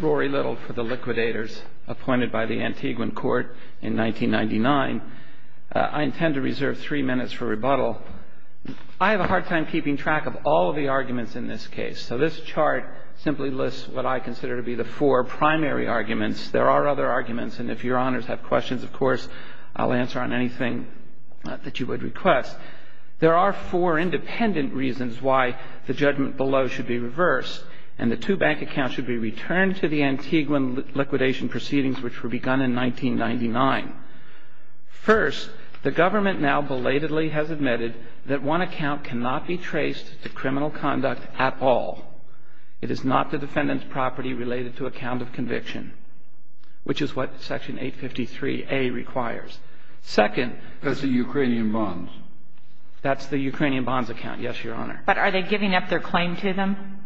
Rory Little for the Liquidators, appointed by the Antiguan Court in 1999. I intend to reserve three minutes for rebuttal. I have a hard time keeping track of all of the arguments in this case, so this chart simply lists what I consider to be the four primary arguments. There are other arguments, and if your honors have questions, of course, I'll answer on anything that you would request. There are four independent reasons why the judgment below should be reversed, and the two bank accounts should be returned to the Antiguan liquidation proceedings, which were begun in 1999. First, the government now belatedly has admitted that one account cannot be traced to criminal conduct at all. It is not the defendant's property related to account of conviction, which is what Section 853A requires. Second... That's the Ukrainian bonds. That's the Ukrainian bonds account, yes, your honor. But are they giving up their claim to them?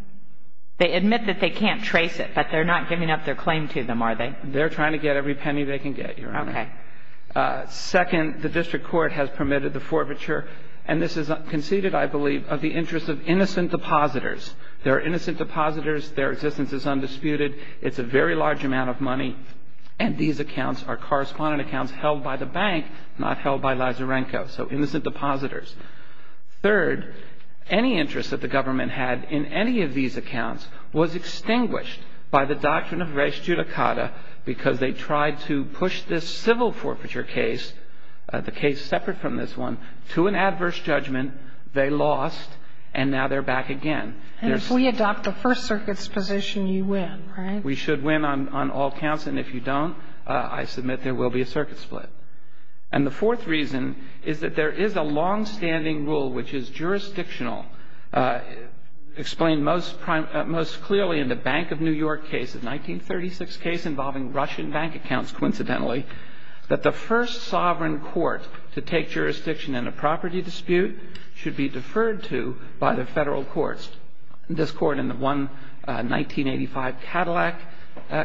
They admit that they can't trace it, but they're not giving up their claim to them, are they? They're trying to get every penny they can get, your honor. Okay. Second, the district court has permitted the forfeiture, and this is conceded, I believe, of the interest of innocent depositors. They're innocent depositors. Their existence is undisputed. It's a very large amount of money, and these accounts are correspondent accounts held by the bank, not held by Lazarenko. So innocent depositors. Third, any interest that the government had in any of these accounts was extinguished by the doctrine of res judicata because they tried to push this civil forfeiture case, the case separate from this one, to an adverse judgment. They lost, and now they're back again. And if we adopt the First Circuit's position, you win, right? We should win on all counts, and if you don't, I submit there will be a circuit split. And the fourth reason is that there is a longstanding rule which is jurisdictional. Explained most clearly in the Bank of New York case, a 1936 case involving Russian bank accounts, coincidentally, that the first sovereign court to take jurisdiction in a property dispute should be deferred to by the federal courts. This court in the 1985 Cadillac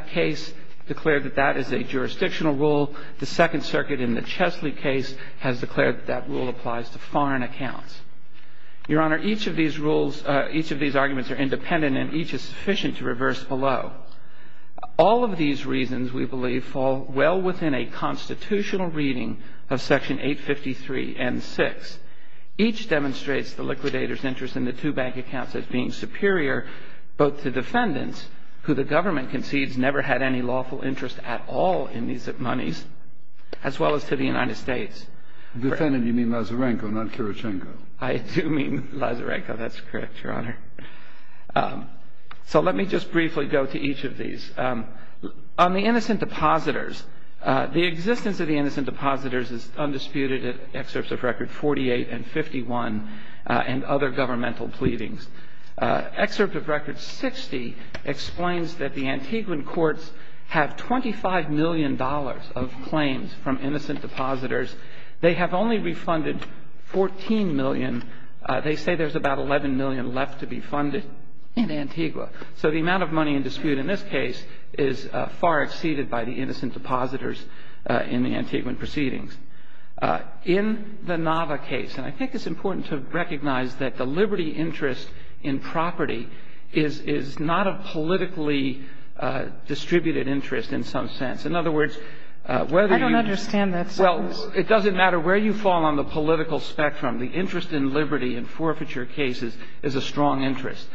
case declared that that is a jurisdictional rule. The Second Circuit in the Chesley case has declared that that rule applies to foreign accounts. Your Honor, each of these rules, each of these arguments are independent, and each is sufficient to reverse below. All of these reasons, we believe, fall well within a constitutional reading of Section 853 and 6. Each demonstrates the liquidator's interest in the two bank accounts as being superior both to defendants, who the government concedes never had any lawful interest at all in these monies, as well as to the United States. Defendant, you mean Lazarenko, not Kirichenko. I do mean Lazarenko. That's correct, Your Honor. So let me just briefly go to each of these. On the innocent depositors, the existence of the innocent depositors is undisputed in excerpts of Record 48 and 51 and other governmental pleadings. Excerpt of Record 60 explains that the Antiguan courts have $25 million of claims from innocent depositors. They have only refunded $14 million. They say there's about $11 million left to be funded in Antigua. So the amount of money in dispute in this case is far exceeded by the innocent depositors in the Antiguan proceedings. In the Nava case, and I think it's important to recognize that the liberty interest in property is not a politically distributed interest in some sense. In other words, whether you ---- I don't understand that sentence. Well, it doesn't matter where you fall on the political spectrum. The interest in liberty in forfeiture cases is a strong interest.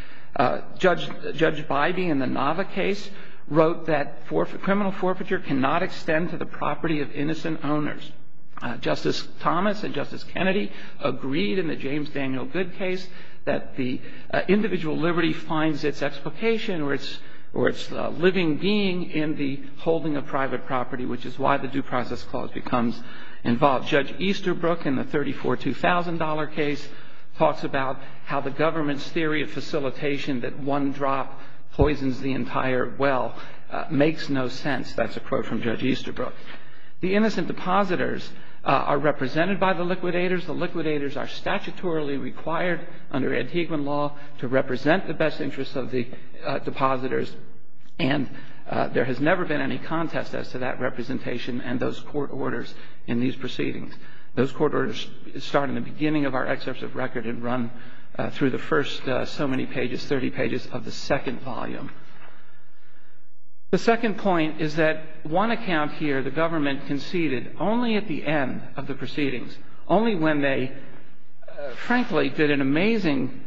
Judge Bybee in the Nava case wrote that criminal forfeiture cannot extend to the property of innocent owners. Justice Thomas and Justice Kennedy agreed in the James Daniel Goode case that the individual liberty finds its explication or its living being in the holding of private property, which is why the Due Process Clause becomes involved. Judge Easterbrook in the $34,200 case talks about how the government's theory of facilitation that one drop poisons the entire well makes no sense. That's a quote from Judge Easterbrook. The innocent depositors are represented by the liquidators. The liquidators are statutorily required under Antiguan law to represent the best interests of the depositors, and there has never been any contest as to that representation and those court orders in these proceedings. Those court orders start in the beginning of our excerpts of record and run through the first so many pages, 30 pages of the second volume. The second point is that one account here, the government conceded only at the end of the proceedings, only when they frankly did an amazing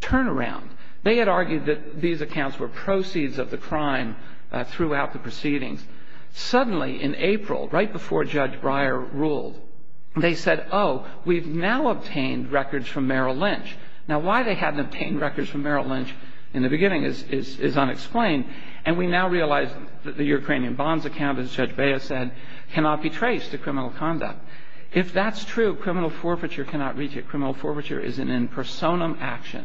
turnaround. They had argued that these accounts were proceeds of the crime throughout the proceedings. Suddenly, in April, right before Judge Breyer ruled, they said, oh, we've now obtained records from Merrill Lynch. Now, why they hadn't obtained records from Merrill Lynch in the beginning is unexplained, and we now realize that the Ukrainian bonds account, as Judge Beyer said, cannot be traced to criminal conduct. If that's true, criminal forfeiture cannot reach it. Criminal forfeiture is an impersonum action.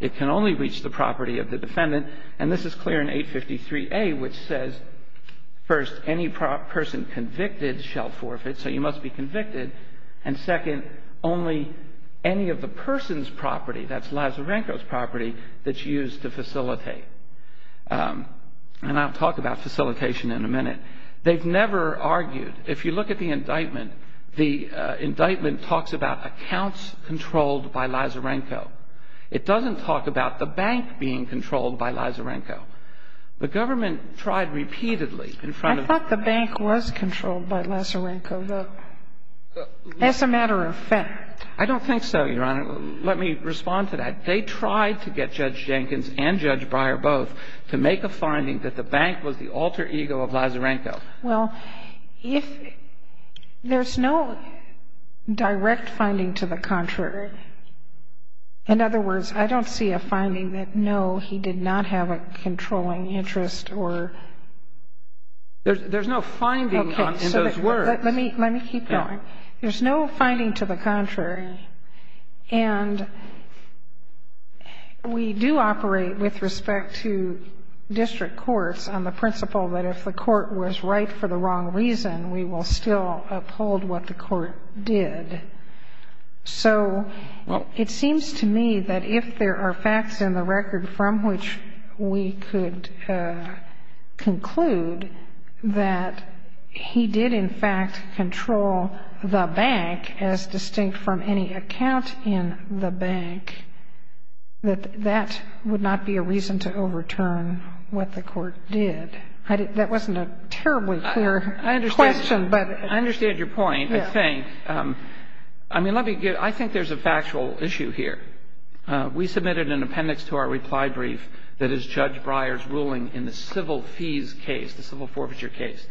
It can only reach the property of the defendant, and this is clear in 853A, which says, first, any person convicted shall forfeit, so you must be convicted, and second, only any of the person's property, that's Lazarenko's property, that's used to facilitate. And I'll talk about facilitation in a minute. They've never argued. If you look at the indictment, the indictment talks about accounts controlled by Lazarenko. It doesn't talk about the bank being controlled by Lazarenko. The government tried repeatedly in front of the ---- I thought the bank was controlled by Lazarenko, though. That's a matter of fact. I don't think so, Your Honor. Let me respond to that. They tried to get Judge Jenkins and Judge Breyer both to make a finding that the bank was the alter ego of Lazarenko. Well, there's no direct finding to the contrary. In other words, I don't see a finding that, no, he did not have a controlling interest or ---- There's no finding in those words. Let me keep going. There's no finding to the contrary. And we do operate with respect to district courts on the principle that if the court was right for the wrong reason, we will still uphold what the court did. So it seems to me that if there are facts in the record from which we could conclude that he did, in fact, control the bank as distinct from any account in the bank, that that would not be a reason to overturn what the court did. That wasn't a terribly clear question, but ---- I understand your point, I think. I mean, let me get ---- I think there's a factual issue here. We submitted an appendix to our reply brief that is Judge Breyer's ruling in the civil fees case, the civil forfeiture case.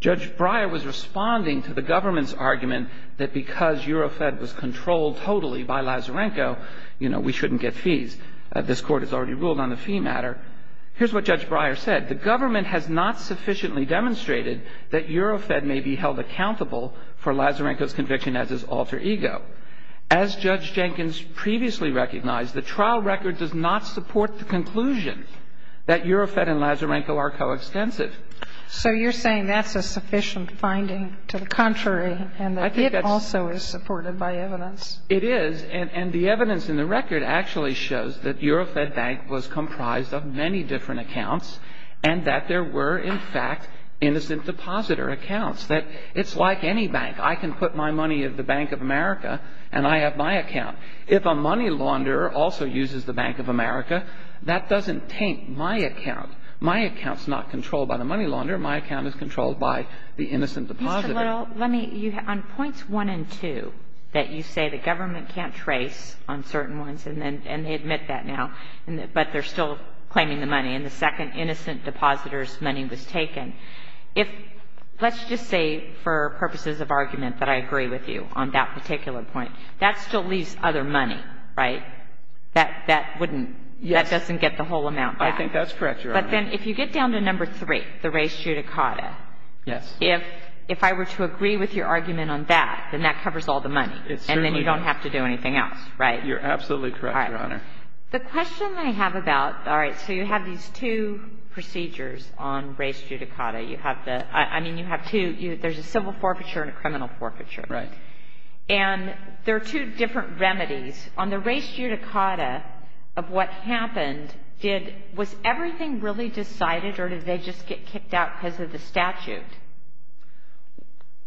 Judge Breyer was responding to the government's argument that because Eurofed was controlled totally by Lazarenko, you know, we shouldn't get fees. This Court has already ruled on the fee matter. Here's what Judge Breyer said. The government has not sufficiently demonstrated that Eurofed may be held accountable for Lazarenko's conviction as his alter ego. As Judge Jenkins previously recognized, the trial record does not support the conclusion that Eurofed and Lazarenko are coextensive. So you're saying that's a sufficient finding to the contrary, and that it also is supported by evidence. It is, and the evidence in the record actually shows that Eurofed Bank was comprised of many different accounts, and that there were, in fact, innocent depositor accounts, that it's like any bank. I can put my money at the Bank of America, and I have my account. If a money launderer also uses the Bank of America, that doesn't taint my account. My account's not controlled by the money launderer. My account is controlled by the innocent depositor. Mr. Little, let me – on points 1 and 2, that you say the government can't trace on certain ones, and they admit that now, but they're still claiming the money, and the second innocent depositor's money was taken, if – let's just say for purposes of argument that I agree with you on that particular point. That still leaves other money, right? That wouldn't – that doesn't get the whole amount back. I think that's correct, Your Honor. But then if you get down to number 3, the res judicata. Yes. If I were to agree with your argument on that, then that covers all the money. It certainly does. And then you don't have to do anything else, right? You're absolutely correct, Your Honor. All right. The question I have about – all right. So you have these two procedures on res judicata. You have the – I mean, you have two. There's a civil forfeiture and a criminal forfeiture. Right. And there are two different remedies. On the res judicata of what happened, did – was everything really decided, or did they just get kicked out because of the statute?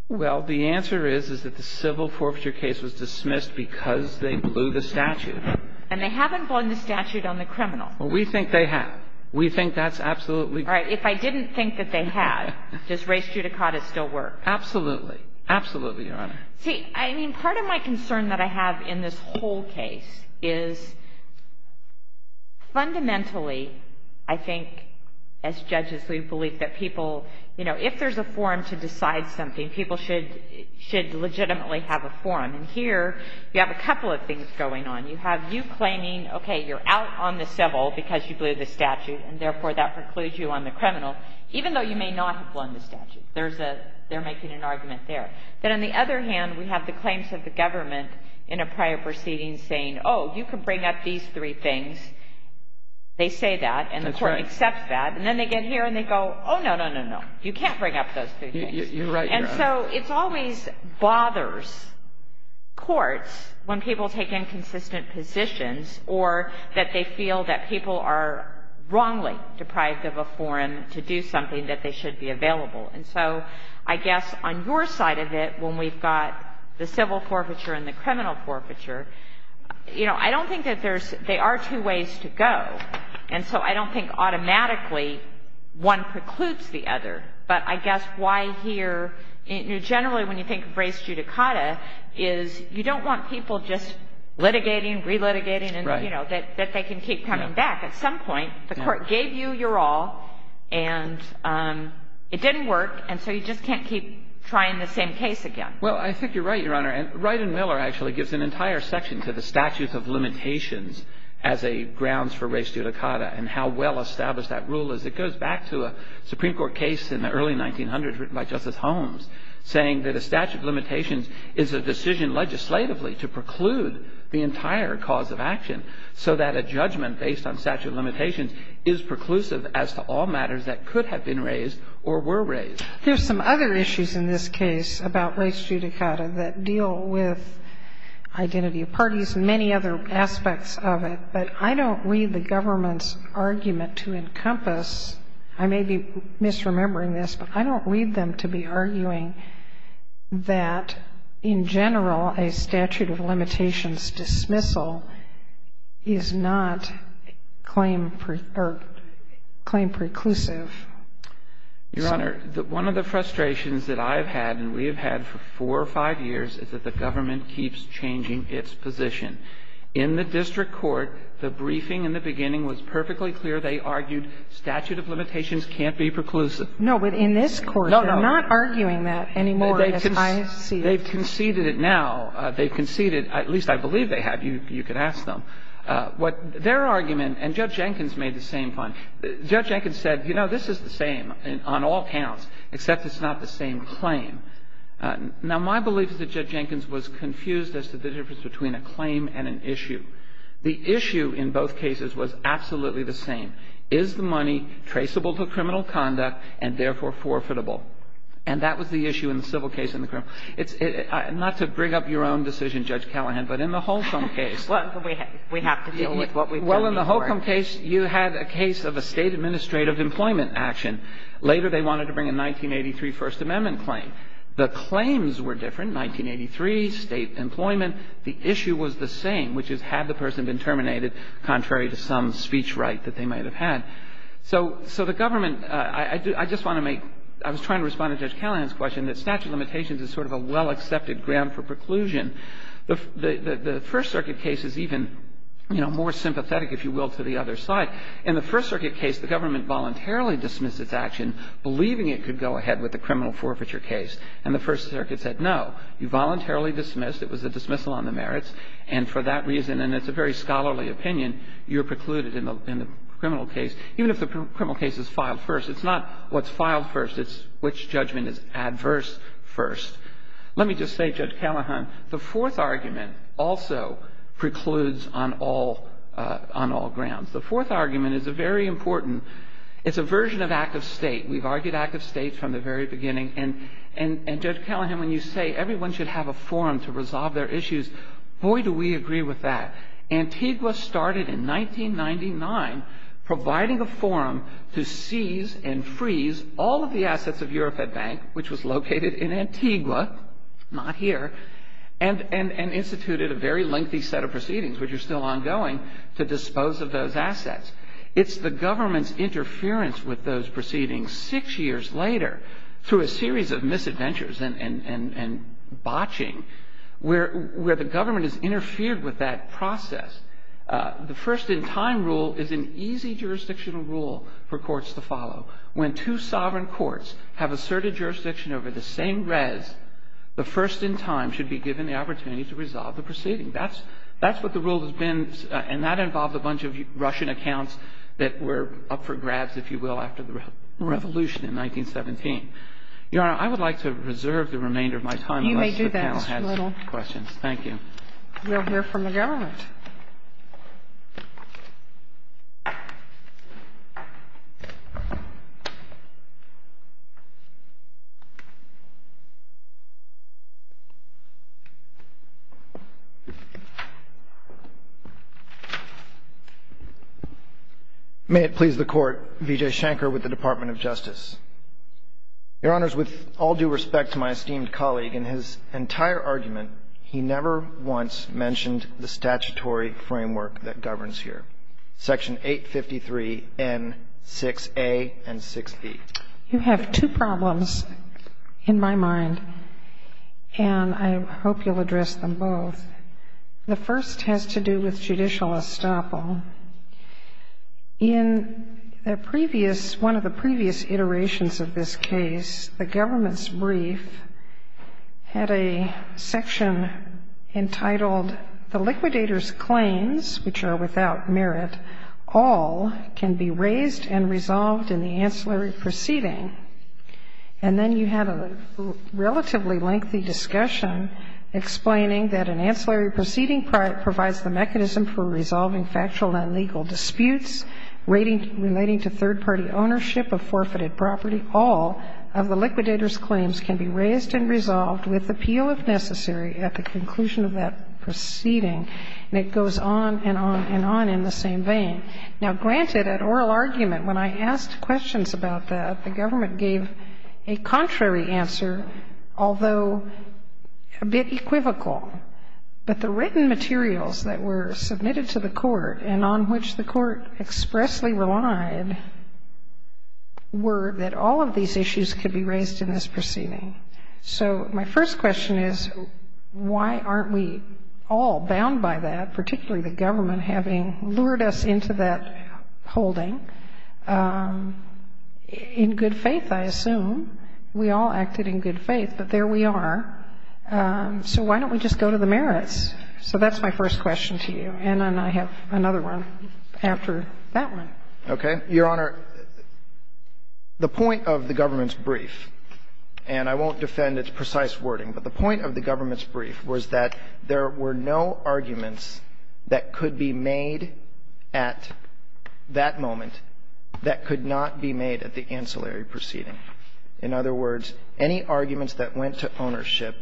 Well, the answer is, is that the civil forfeiture case was dismissed because they blew the statute. And they haven't blown the statute on the criminal. Well, we think they have. We think that's absolutely correct. All right. If I didn't think that they had, does res judicata still work? Absolutely. Absolutely, Your Honor. See, I mean, part of my concern that I have in this whole case is fundamentally, I think, as judges we believe that people – you know, if there's a forum to decide something, people should legitimately have a forum. And here you have a couple of things going on. You have you claiming, okay, you're out on the civil because you blew the statute, and therefore that precludes you on the criminal, even though you may not have blown the statute. There's a – they're making an argument there. Then on the other hand, we have the claims of the government in a prior proceeding saying, oh, you can bring up these three things. They say that. That's right. And the Court accepts that. And then they get here and they go, oh, no, no, no, no. You can't bring up those three things. You're right, Your Honor. And so it always bothers courts when people take inconsistent positions or that they feel that people are wrongly deprived of a forum to do something that they should be available. And so I guess on your side of it, when we've got the civil forfeiture and the criminal forfeiture, you know, I don't think that there's – there are two ways to go. And so I don't think automatically one precludes the other. But I guess why here – generally when you think of race judicata, is you don't want people just litigating, relitigating, and, you know, that they can keep coming back. At some point, the Court gave you your all and it didn't work. And so you just can't keep trying the same case again. Well, I think you're right, Your Honor. And Wright and Miller actually gives an entire section to the statute of limitations as a grounds for race judicata and how well established that rule is. It goes back to a Supreme Court case in the early 1900s written by Justice Holmes saying that a statute of limitations is a decision legislatively to preclude the entire cause of action so that a judgment based on statute of limitations is preclusive as to all matters that could have been raised or were raised. There's some other issues in this case about race judicata that deal with identity of parties and many other aspects of it. But I don't read the government's argument to encompass – I may be misremembering this, but I don't read them to be arguing that, in general, a statute of limitations dismissal is not claim – or claim preclusive. Your Honor, one of the frustrations that I've had and we have had for four or five years is that the government keeps changing its position. In the district court, the briefing in the beginning was perfectly clear. They argued statute of limitations can't be preclusive. No, but in this court, they're not arguing that anymore, as I see it. They've conceded it now. They've conceded – at least I believe they have. You could ask them. What their argument – and Judge Jenkins made the same point. Judge Jenkins said, you know, this is the same on all counts, except it's not the same claim. Now, my belief is that Judge Jenkins was confused as to the difference between a claim and an issue. The issue in both cases was absolutely the same. And the question was, is the money traceable to criminal conduct and, therefore, forfeitable? And that was the issue in the civil case and the criminal case. Not to bring up your own decision, Judge Callahan, but in the Holcombe case. We have to deal with what we've heard before. Well, in the Holcombe case, you had a case of a State administrative employment action. Later, they wanted to bring a 1983 First Amendment claim. The claims were different. 1983, State employment. The issue was the same, which is, had the person been terminated contrary to some So the government – I just want to make – I was trying to respond to Judge Callahan's question that statute of limitations is sort of a well-accepted ground for preclusion. The First Circuit case is even, you know, more sympathetic, if you will, to the other side. In the First Circuit case, the government voluntarily dismissed its action, believing it could go ahead with the criminal forfeiture case. And the First Circuit said, no. You voluntarily dismissed. It was a dismissal on the merits. And for that reason – and it's a very scholarly opinion – you're precluded in the criminal case, even if the criminal case is filed first. It's not what's filed first. It's which judgment is adverse first. Let me just say, Judge Callahan, the fourth argument also precludes on all grounds. The fourth argument is a very important – it's a version of Act of State. We've argued Act of State from the very beginning. And, Judge Callahan, when you say everyone should have a forum to resolve their issues, boy, do we agree with that. Antigua started in 1999 providing a forum to seize and freeze all of the assets of Eurofed Bank, which was located in Antigua, not here, and instituted a very lengthy set of proceedings which are still ongoing to dispose of those assets. It's the government's interference with those proceedings six years later through a series of misadventures and botching where the government has interfered with that process. The first-in-time rule is an easy jurisdictional rule for courts to follow. When two sovereign courts have asserted jurisdiction over the same res, the first-in-time should be given the opportunity to resolve the proceeding. That's what the rule has been, and that involved a bunch of Russian accounts that were up for grabs, if you will, after the revolution in 1917. Your Honor, I would like to reserve the remainder of my time unless the panel has questions. Thank you. We'll hear from the government. May it please the Court, Vijay Shankar with the Department of Justice. Your Honors, with all due respect to my esteemed colleague, in his entire argument, he never once mentioned the statutory framework that governs here, Section 853N6A and 6B. You have two problems in my mind, and I hope you'll address them both. The first has to do with judicial estoppel. In the previous, one of the previous iterations of this case, the government's brief had a section entitled, The liquidator's claims, which are without merit, all can be raised and resolved in the ancillary proceeding. And then you had a relatively lengthy discussion explaining that an ancillary proceeding provides the mechanism for resolving factual and legal disputes relating to third-party ownership of forfeited property. All of the liquidator's claims can be raised and resolved with appeal, if necessary, at the conclusion of that proceeding. And it goes on and on and on in the same vein. Now, granted, at oral argument, when I asked questions about that, the government gave a contrary answer, although a bit equivocal. But the written materials that were submitted to the court and on which the court expressly relied were that all of these issues could be raised in this proceeding. So my first question is, why aren't we all bound by that, particularly the government, having lured us into that holding? In good faith, I assume, we all acted in good faith, but there we are. So why don't we just go to the merits? So that's my first question to you. And then I have another one after that one. Okay. Your Honor, the point of the government's brief, and I won't defend its precise wording, but the point of the government's brief was that there were no arguments that could be made at that moment that could not be made at the ancillary proceeding. In other words, any arguments that went to ownership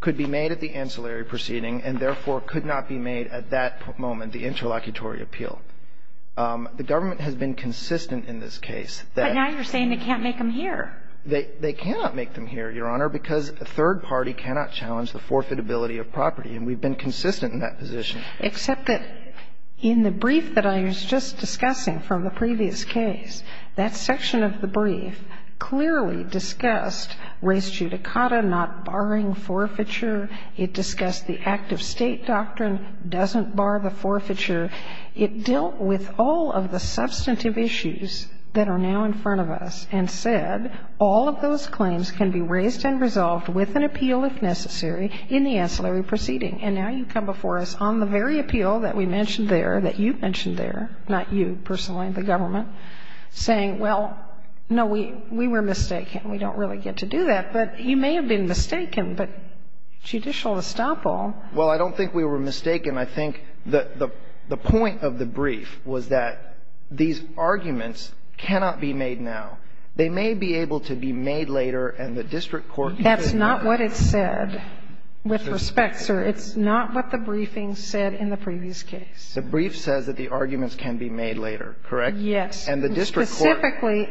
could be made at the ancillary proceeding and, therefore, could not be made at that moment, the interlocutory appeal. The government has been consistent in this case that they can't make them here, Your Honor, and that the third party cannot challenge the forfeitability of property. And we've been consistent in that position. Except that in the brief that I was just discussing from the previous case, that section of the brief clearly discussed res judicata, not barring forfeiture. It discussed the act of State doctrine doesn't bar the forfeiture. It dealt with all of the substantive issues that are now in front of us and said all of those claims can be raised and resolved with an appeal, if necessary, in the ancillary proceeding. And now you come before us on the very appeal that we mentioned there, that you've mentioned there, not you personally, the government, saying, well, no, we were mistaken. We don't really get to do that. But you may have been mistaken, but judicial estoppel. Well, I don't think we were mistaken. I think the point of the brief was that these arguments cannot be made now. They may be able to be made later, and the district court can say that. That's not what it said. With respect, sir, it's not what the briefing said in the previous case. The brief says that the arguments can be made later, correct? Yes. And the district court. Specifically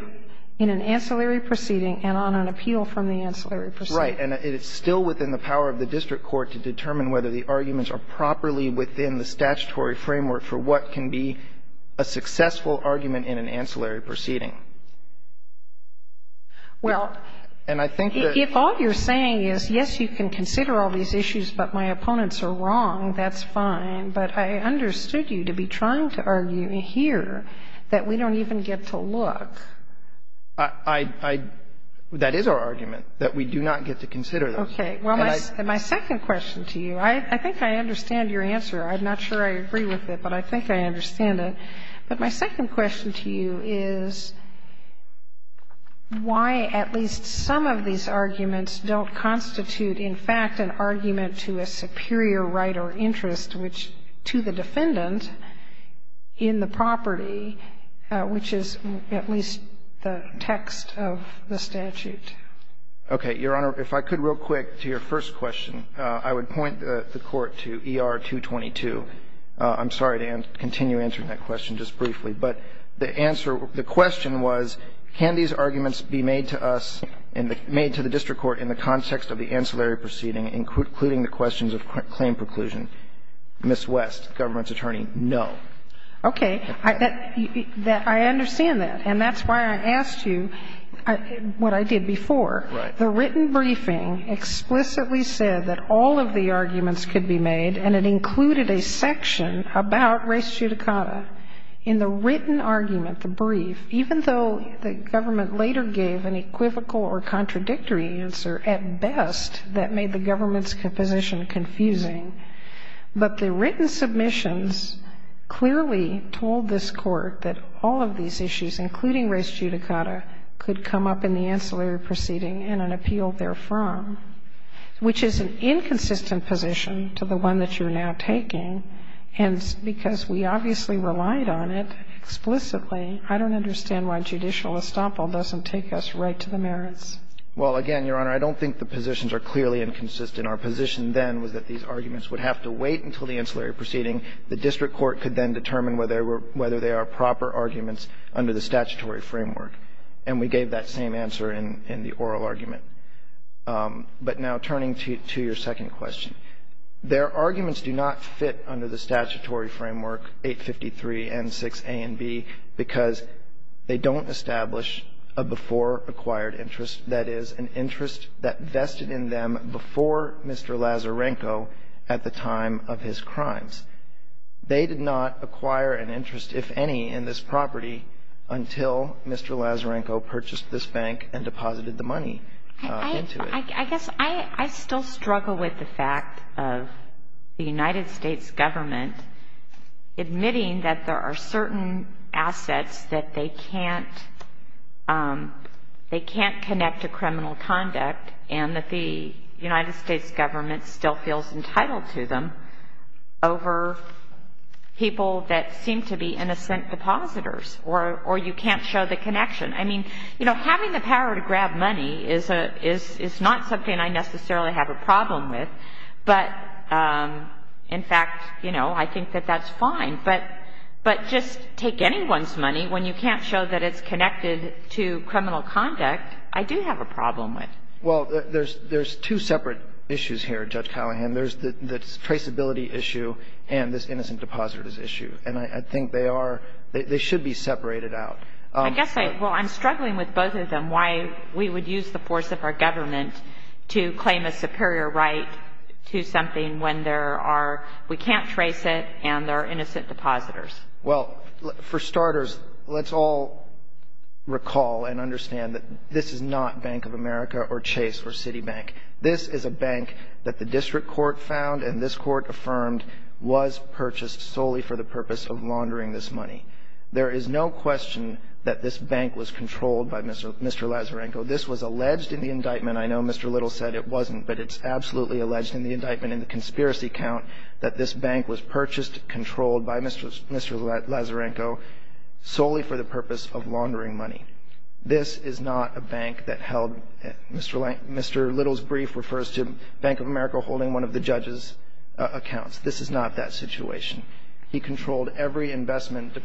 in an ancillary proceeding and on an appeal from the ancillary proceeding. Right. And it's still within the power of the district court to determine whether the arguments are properly within the statutory framework for what can be a successful argument in an ancillary proceeding. Well, if all you're saying is, yes, you can consider all these issues, but my opponents are wrong, that's fine. But I understood you to be trying to argue here that we don't even get to look. I — that is our argument, that we do not get to consider those. Well, my second question to you, I think I understand your answer. I'm not sure I agree with it, but I think I understand it. But my second question to you is why at least some of these arguments don't constitute, in fact, an argument to a superior right or interest, which to the defendant in the property, which is at least the text of the statute. Okay. Your Honor, if I could, real quick, to your first question. I would point the Court to ER-222. I'm sorry to continue answering that question just briefly. But the answer — the question was, can these arguments be made to us, made to the district court in the context of the ancillary proceeding, including the questions of claim preclusion? Ms. West, government's attorney, no. Okay. I understand that. And that's why I asked you what I did before. Right. The written briefing explicitly said that all of the arguments could be made, and it included a section about res judicata. In the written argument, the brief, even though the government later gave an equivocal or contradictory answer, at best, that made the government's position confusing, but the written submissions clearly told this Court that all of these issues, including res judicata, could come up in the ancillary proceeding and an appeal therefrom, which is an inconsistent position to the one that you're now taking. And because we obviously relied on it explicitly, I don't understand why judicial estoppel doesn't take us right to the merits. Well, again, Your Honor, I don't think the positions are clearly inconsistent. And our position then was that these arguments would have to wait until the ancillary proceeding. The district court could then determine whether they were – whether they are proper arguments under the statutory framework. And we gave that same answer in the oral argument. But now turning to your second question, their arguments do not fit under the statutory framework 853 and 6A and B because they don't establish a before-acquired interest, that is, an interest that vested in them before Mr. Lazarenko at the time of his crimes. They did not acquire an interest, if any, in this property until Mr. Lazarenko purchased this bank and deposited the money into it. I guess I still struggle with the fact of the United States government admitting that there are certain assets that they can't connect to criminal conduct and that the United States government still feels entitled to them over people that seem to be innocent depositors, or you can't show the connection. I mean, you know, having the power to grab money is not something I necessarily have a problem with. But, in fact, you know, I think that that's fine. But just take anyone's money. When you can't show that it's connected to criminal conduct, I do have a problem with it. Well, there's two separate issues here, Judge Callahan. There's the traceability issue and this innocent depositors issue. And I think they are – they should be separated out. I guess I – well, I'm struggling with both of them, why we would use the force of our government to claim a superior right to something when there are – we can't trace it and there are innocent depositors. Well, for starters, let's all recall and understand that this is not Bank of America or Chase or Citibank. This is a bank that the district court found and this court affirmed was purchased solely for the purpose of laundering this money. There is no question that this bank was controlled by Mr. – Mr. Lazarenko. This was alleged in the indictment. I know Mr. Little said it wasn't, but it's absolutely alleged in the indictment and in the conspiracy count that this bank was purchased, controlled by Mr. – Mr. Lazarenko solely for the purpose of laundering money. This is not a bank that held – Mr. – Mr. Little's brief refers to Bank of America holding one of the judge's accounts. This is not that situation. He controlled every investment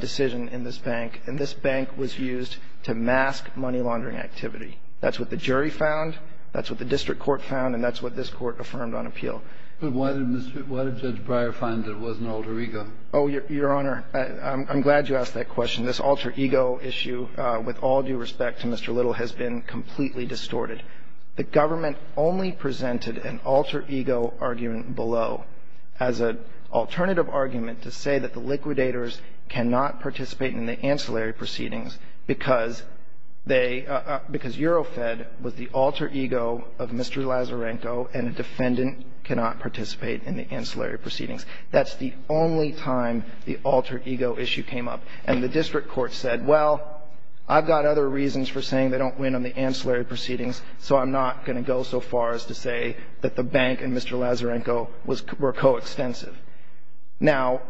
decision in this bank and this bank was used to mask money laundering activity. That's what the jury found. That's what the district court found and that's what this court affirmed on appeal. But why did Mr. – why did Judge Breyer find that it was an alter ego? Oh, Your Honor, I'm glad you asked that question. This alter ego issue, with all due respect to Mr. Little, has been completely distorted. The government only presented an alter ego argument below as an alternative argument to say that the liquidators cannot participate in the ancillary proceedings because they – because Eurofed was the alter ego of Mr. Lazarenko and a defendant cannot participate in the ancillary proceedings. That's the only time the alter ego issue came up. And the district court said, well, I've got other reasons for saying they don't win on the ancillary proceedings, so I'm not going to go so far as to say that the bank and Mr. Lazarenko was – were coextensive. Now,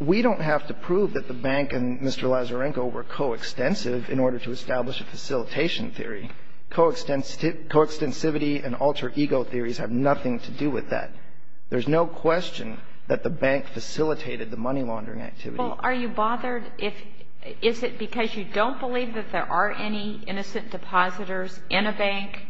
we don't have to prove that the bank and Mr. Lazarenko were coextensive in order to establish a facilitation theory. Coextensivity and alter ego theories have nothing to do with that. There's no question that the bank facilitated the money laundering activity. Well, are you bothered if – is it because you don't believe that there are any innocent depositors in a bank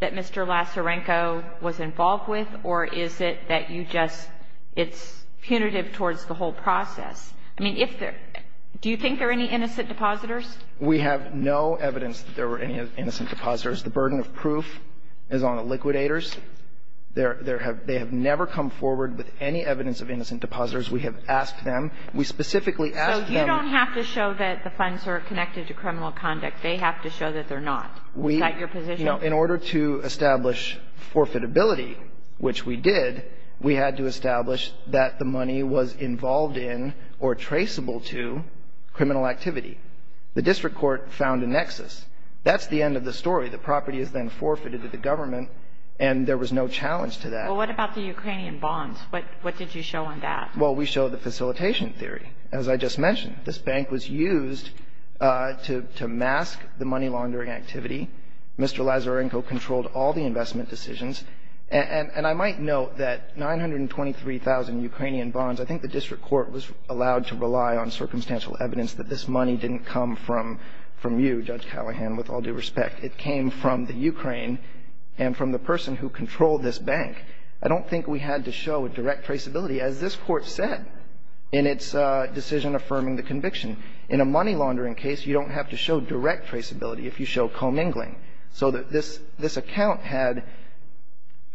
that Mr. Lazarenko was involved with, or is it that you just think that it's punitive towards the whole process? I mean, if there – do you think there are any innocent depositors? We have no evidence that there were any innocent depositors. The burden of proof is on the liquidators. There have – they have never come forward with any evidence of innocent depositors. We have asked them. We specifically asked them. So you don't have to show that the funds are connected to criminal conduct. They have to show that they're not. Is that your position? In order to establish forfeitability, which we did, we had to establish that the money was involved in or traceable to criminal activity. The district court found a nexus. That's the end of the story. The property is then forfeited to the government, and there was no challenge to that. Well, what about the Ukrainian bonds? What did you show on that? Well, we showed the facilitation theory, as I just mentioned. This bank was used to mask the money laundering activity. Mr. Lazarenko controlled all the investment decisions. And I might note that 923,000 Ukrainian bonds, I think the district court was allowed to rely on circumstantial evidence that this money didn't come from you, Judge Callahan, with all due respect. It came from the Ukraine and from the person who controlled this bank. I don't think we had to show a direct traceability, as this Court said in its decision affirming the conviction. In a money laundering case, you don't have to show direct traceability if you show commingling, so that this account had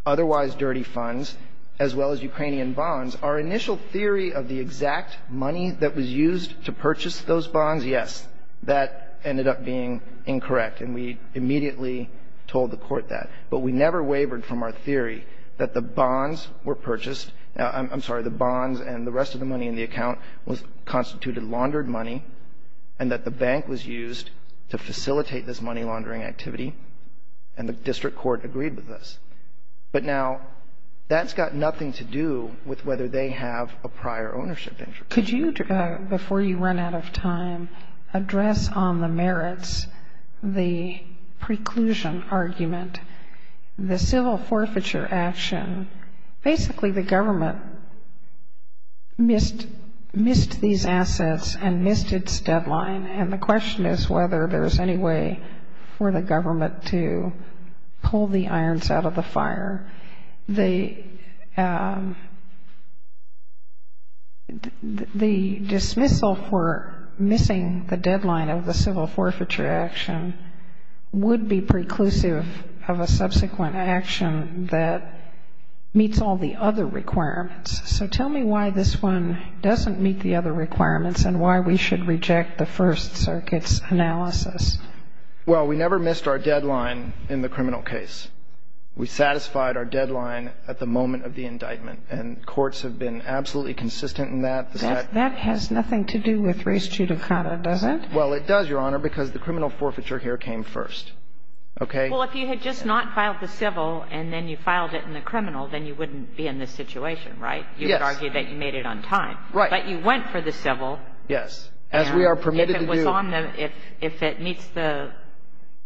otherwise dirty funds as well as Ukrainian bonds. Our initial theory of the exact money that was used to purchase those bonds, yes, that ended up being incorrect, and we immediately told the Court that. But we never wavered from our theory that the bonds were purchased. I'm sorry. The bonds and the rest of the money in the account constituted laundered money, and that the bank was used to facilitate this money laundering activity, and the district court agreed with this. But now, that's got nothing to do with whether they have a prior ownership interest. Could you, before you run out of time, address on the merits the preclusion argument, the civil forfeiture action? Basically, the government missed these assets and missed its deadline, and the question is whether there's any way for the government to pull the irons out of the fire. The dismissal for missing the deadline of the civil forfeiture action would be preclusive of a subsequent action that meets all the other requirements. So tell me why this one doesn't meet the other requirements and why we should reject the First Circuit's analysis. Well, we never missed our deadline in the criminal case. We satisfied our deadline at the moment of the indictment, and courts have been absolutely consistent in that. That has nothing to do with res judicata, does it? Well, it does, Your Honor, because the criminal forfeiture here came first. Okay? Well, if you had just not filed the civil and then you filed it in the criminal, then you wouldn't be in this situation, right? Yes. You would argue that you made it on time. Right. But you went for the civil. Yes. As we are permitted to do. And if it was on the – if it meets the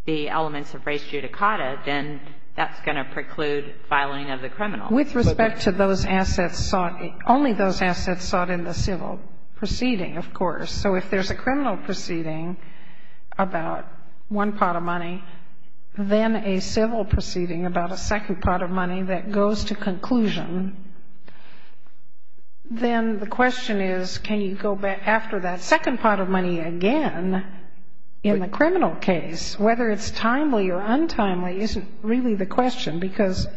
elements of res judicata, then that's going to preclude filing of the criminal. With respect to those assets sought – only those assets sought in the civil proceeding, of course. So if there's a criminal proceeding about one pot of money, then a civil proceeding about a second pot of money that goes to conclusion, then the question is can you go after that second pot of money again in the criminal case? Whether it's timely or untimely isn't really the question, because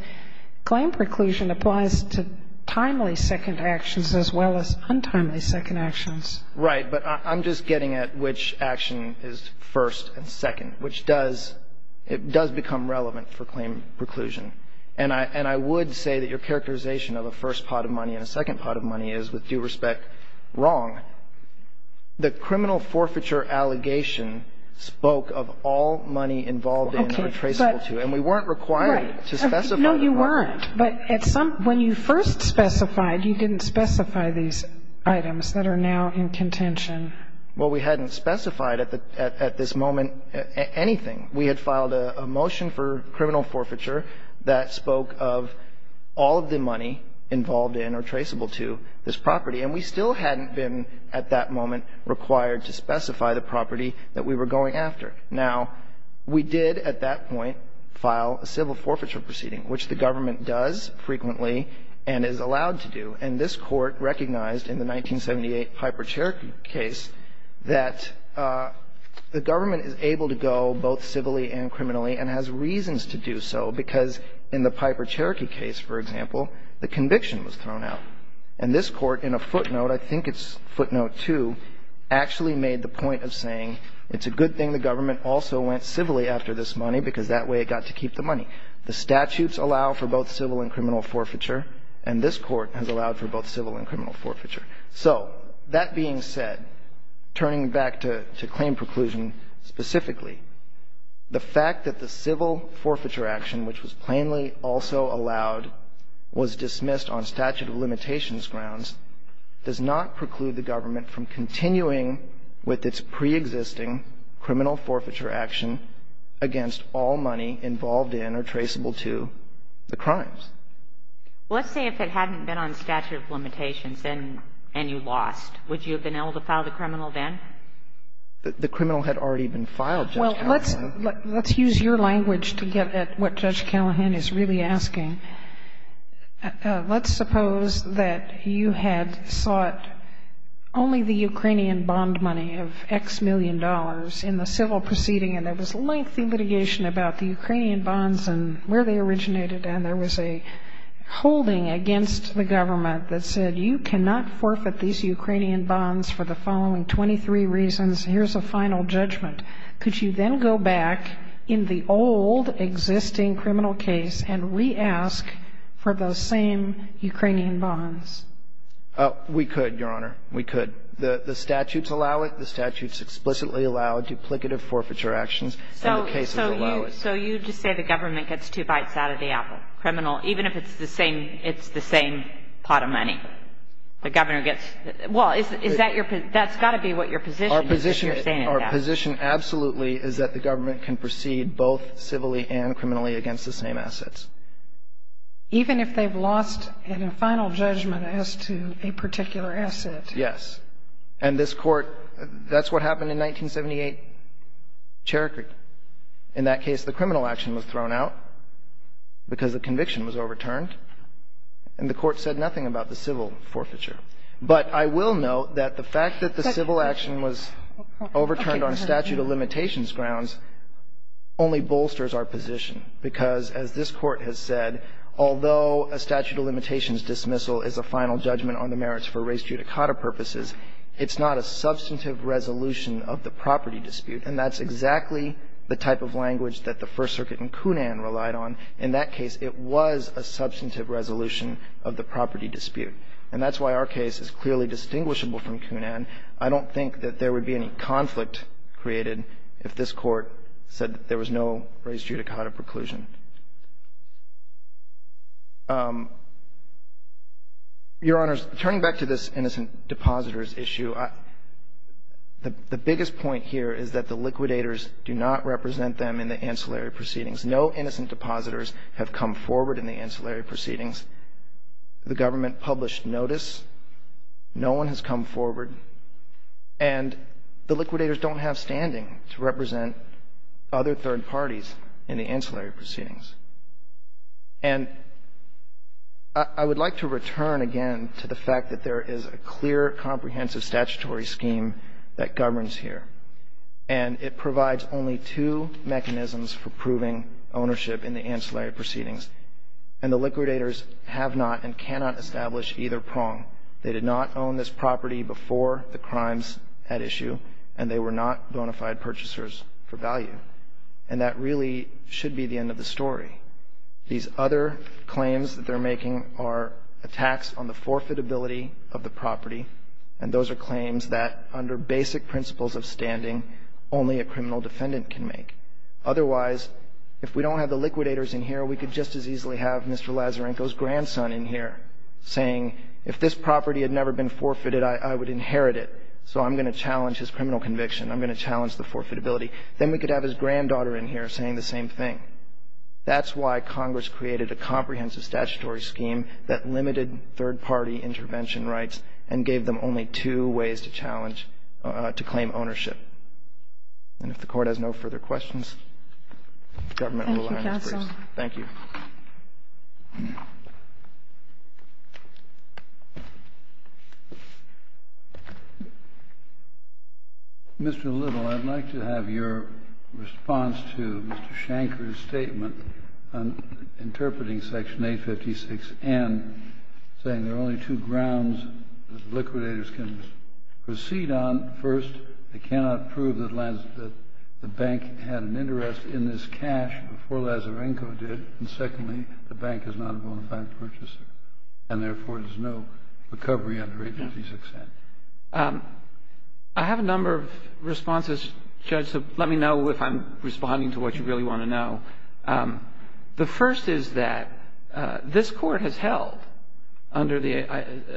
claim preclusion applies to timely second actions as well as untimely second actions. Right. But I'm just getting at which action is first and second, which does – it does become relevant for claim preclusion. And I would say that your characterization of a first pot of money and a second pot of money is, with due respect, wrong. The criminal forfeiture allegation spoke of all money involved in or traceable to. And we weren't required to specify. Right. No, you weren't. But at some – when you first specified, you didn't specify these items that are now in contention. Well, we hadn't specified at the – at this moment anything. We had filed a motion for criminal forfeiture that spoke of all of the money involved in or traceable to this property. And we still hadn't been, at that moment, required to specify the property that we were going after. Now, we did at that point file a civil forfeiture proceeding, which the government does frequently and is allowed to do. And this Court recognized in the 1978 Piper-Cherokee case that the government is able to go both civilly and criminally and has reasons to do so because in the Piper-Cherokee case, for example, the conviction was thrown out. And this Court, in a footnote – I think it's footnote 2 – actually made the point of saying it's a good thing the government also went civilly after this money because that way it got to keep the money. The statutes allow for both civil and criminal forfeiture, and this Court has allowed for both civil and criminal forfeiture. So that being said, turning back to claim preclusion specifically, the fact that the civil forfeiture action, which was plainly also allowed, was dismissed on statute of And that's because it was a preexisting criminal forfeiture action against all money involved in or traceable to the crimes. Well, let's say if it hadn't been on statute of limitations and you lost, would you have been able to file the criminal then? The criminal had already been filed, Judge Callahan. Well, let's use your language to get at what Judge Callahan is really asking. Let's suppose that you had sought only the Ukrainian bond money of X million dollars in the civil proceeding, and there was lengthy litigation about the Ukrainian bonds and where they originated, and there was a holding against the government that said, You cannot forfeit these Ukrainian bonds for the following 23 reasons. Here's a final judgment. Could you then go back in the old existing criminal case and re-ask for those same Ukrainian bonds? We could, Your Honor. We could. The statutes allow it. The statutes explicitly allow duplicative forfeiture actions, and the cases allow it. So you just say the government gets two bites out of the apple. Criminal, even if it's the same pot of money. The governor gets, well, is that your, that's got to be what your position is that you're saying that. Our position absolutely is that the government can proceed both civilly and criminally against the same assets. Even if they've lost in a final judgment as to a particular asset. Yes. And this Court, that's what happened in 1978, Cherokee. In that case, the criminal action was thrown out because the conviction was overturned, and the Court said nothing about the civil forfeiture. But I will note that the fact that the civil action was overturned on statute of limitations grounds only bolsters our position, because, as this Court has said, although a statute of limitations dismissal is a final judgment on the merits for res judicata purposes, it's not a substantive resolution of the property dispute. And that's exactly the type of language that the First Circuit in Kunan relied on. In that case, it was a substantive resolution of the property dispute. And that's why our case is clearly distinguishable from Kunan. I don't think that there would be any conflict created if this Court said that there was no res judicata preclusion. Your Honors, turning back to this innocent depositors issue, the biggest point here is that the liquidators do not represent them in the ancillary proceedings. No innocent depositors have come forward in the ancillary proceedings. The government published notice. No one has come forward. And the liquidators don't have standing to represent other third parties in the ancillary proceedings. And I would like to return again to the fact that there is a clear, comprehensive statutory scheme that governs here, and it provides only two mechanisms for proving ownership in the ancillary proceedings. And the liquidators have not and cannot establish either prong. They did not own this property before the crimes at issue, and they were not bona fide purchasers for value. And that really should be the end of the story. These other claims that they're making are attacks on the forfeitability of the property, and those are claims that under basic principles of standing, only a criminal defendant can make. Otherwise, if we don't have the liquidators in here, we could just as easily have Mr. Lazarenko's grandson in here saying, if this property had never been forfeited, I would inherit it. So I'm going to challenge his criminal conviction. I'm going to challenge the forfeitability. Then we could have his granddaughter in here saying the same thing. That's why Congress created a comprehensive statutory scheme that limited third-party intervention rights and gave them only two ways to challenge, to claim ownership. And if the Court has no further questions, the government will allow you to proceed. Thank you, Counsel. Thank you. Mr. Little, I'd like to have your response to Mr. Shanker's statement on interpreting Section 856N, saying there are only two grounds that liquidators can proceed on. First, they cannot prove that the bank had an interest in this cash before Lazarenko did, and secondly, the bank is not a bona fide purchaser, and therefore, there's no recovery under 866N. I have a number of responses, Judge, so let me know if I'm responding to what you really want to know. The first is that this Court has held, under the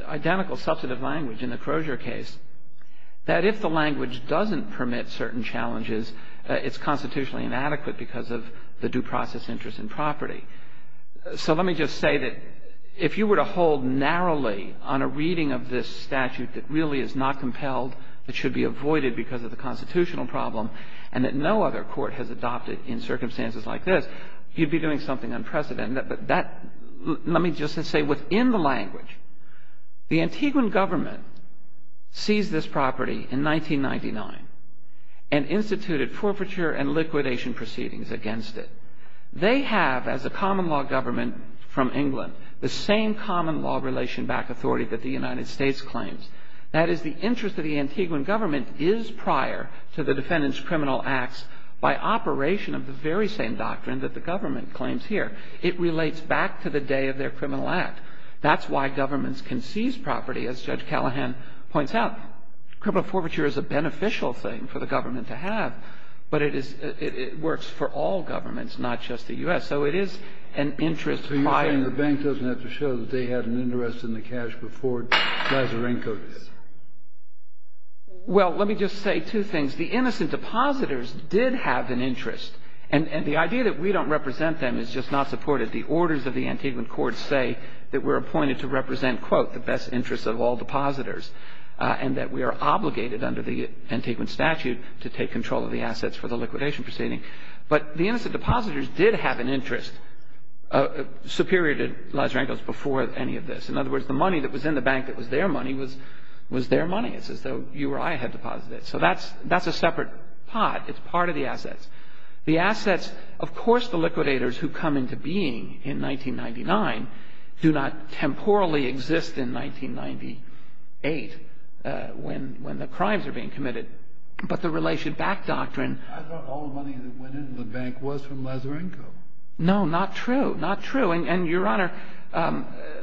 identical substantive language in the Crozier case, that if the language doesn't permit certain challenges, it's constitutionally inadequate because of the due process interest in property. So let me just say that if you were to hold narrowly on a reading of this statute that really is not compelled, that should be avoided because of the constitutional problem, and that no other court has adopted in circumstances like this, you'd be doing something unprecedented. Let me just say within the language, the Antiguan government seized this property in 1999 and instituted forfeiture and liquidation proceedings against it. They have, as a common law government from England, the same common law relation back authority that the United States claims. That is, the interest of the Antiguan government is prior to the defendant's criminal acts by operation of the very same doctrine that the government claims here. It relates back to the day of their criminal act. That's why governments can seize property, as Judge Callahan points out. Criminal forfeiture is a beneficial thing for the government to have, but it works for all governments, not just the U.S. So it is an interest prior. So you're saying the bank doesn't have to show that they had an interest in the cash before Glazerenko did? Well, let me just say two things. The innocent depositors did have an interest, and the idea that we don't represent them is just not supported. The orders of the Antiguan courts say that we're appointed to represent, quote, the best interests of all depositors, and that we are obligated under the Antiguan statute to take control of the assets for the liquidation proceeding. But the innocent depositors did have an interest superior to Glazerenko's before any of this. In other words, the money that was in the bank that was their money was their money. It's as though you or I had deposited it. So that's a separate pot. It's part of the assets. The assets, of course the liquidators who come into being in 1999 do not temporally exist in 1998 when the crimes are being committed. But the Relation Back Doctrine. I thought all the money that went into the bank was from Glazerenko. No, not true. Not true. And, Your Honor,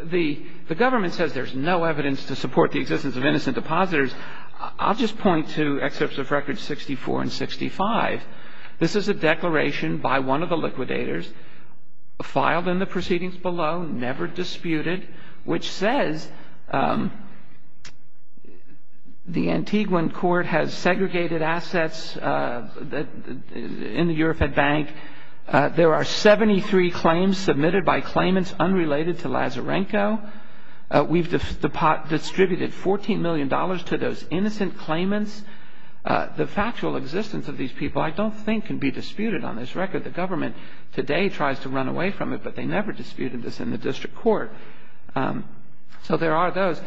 the government says there's no evidence to support the existence of innocent depositors. I'll just point to excerpts of records 64 and 65. This is a declaration by one of the liquidators, filed in the proceedings below, never disputed, which says the Antiguan court has segregated assets in the Eurofed Bank. There are 73 claims submitted by claimants unrelated to Glazerenko. We've distributed $14 million to those innocent claimants. The factual existence of these people I don't think can be disputed on this record. The government today tries to run away from it, but they never disputed this in the district court. So there are those.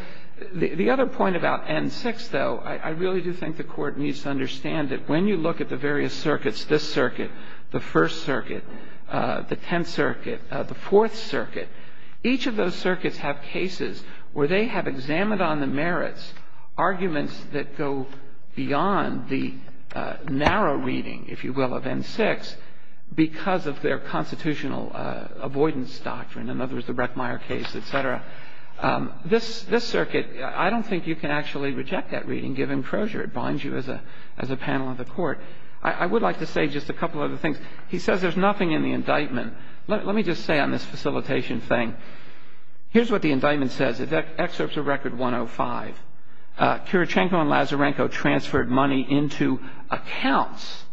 The other point about N6, though, I really do think the court needs to understand that when you look at the various circuits, this circuit, the First Circuit, the other circuits have cases where they have examined on the merits arguments that go beyond the narrow reading, if you will, of N6 because of their constitutional avoidance doctrine, in other words, the Breckmeyer case, et cetera. This circuit, I don't think you can actually reject that reading, given closure. It binds you as a panel of the Court. I would like to say just a couple other things. He says there's nothing in the indictment. Let me just say on this facilitation thing, here's what the indictment says. Excerpts of Record 105. Kurochenko and Lazarenko transferred money into accounts,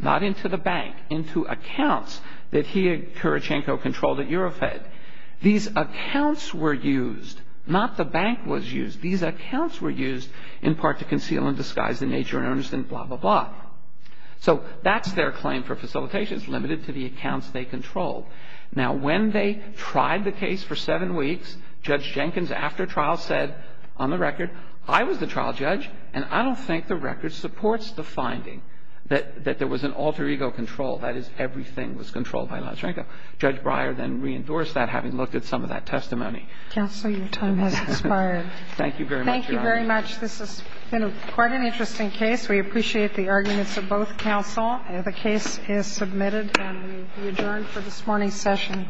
not into the bank, into accounts that he and Kurochenko controlled at Eurofed. These accounts were used. Not the bank was used. These accounts were used in part to conceal and disguise the nature and earnest and blah, blah, blah. So that's their claim for facilitation. It's limited to the accounts they controlled. Now, when they tried the case for seven weeks, Judge Jenkins after trial said, on the record, I was the trial judge, and I don't think the record supports the finding that there was an alter ego control, that is, everything was controlled by Lazarenko. Judge Breyer then reendorsed that, having looked at some of that testimony. Kagan. Thank you very much, Your Honor. Thank you very much. This has been quite an interesting case. We appreciate the arguments of both counsel. The case is submitted, and we adjourn for this morning's session.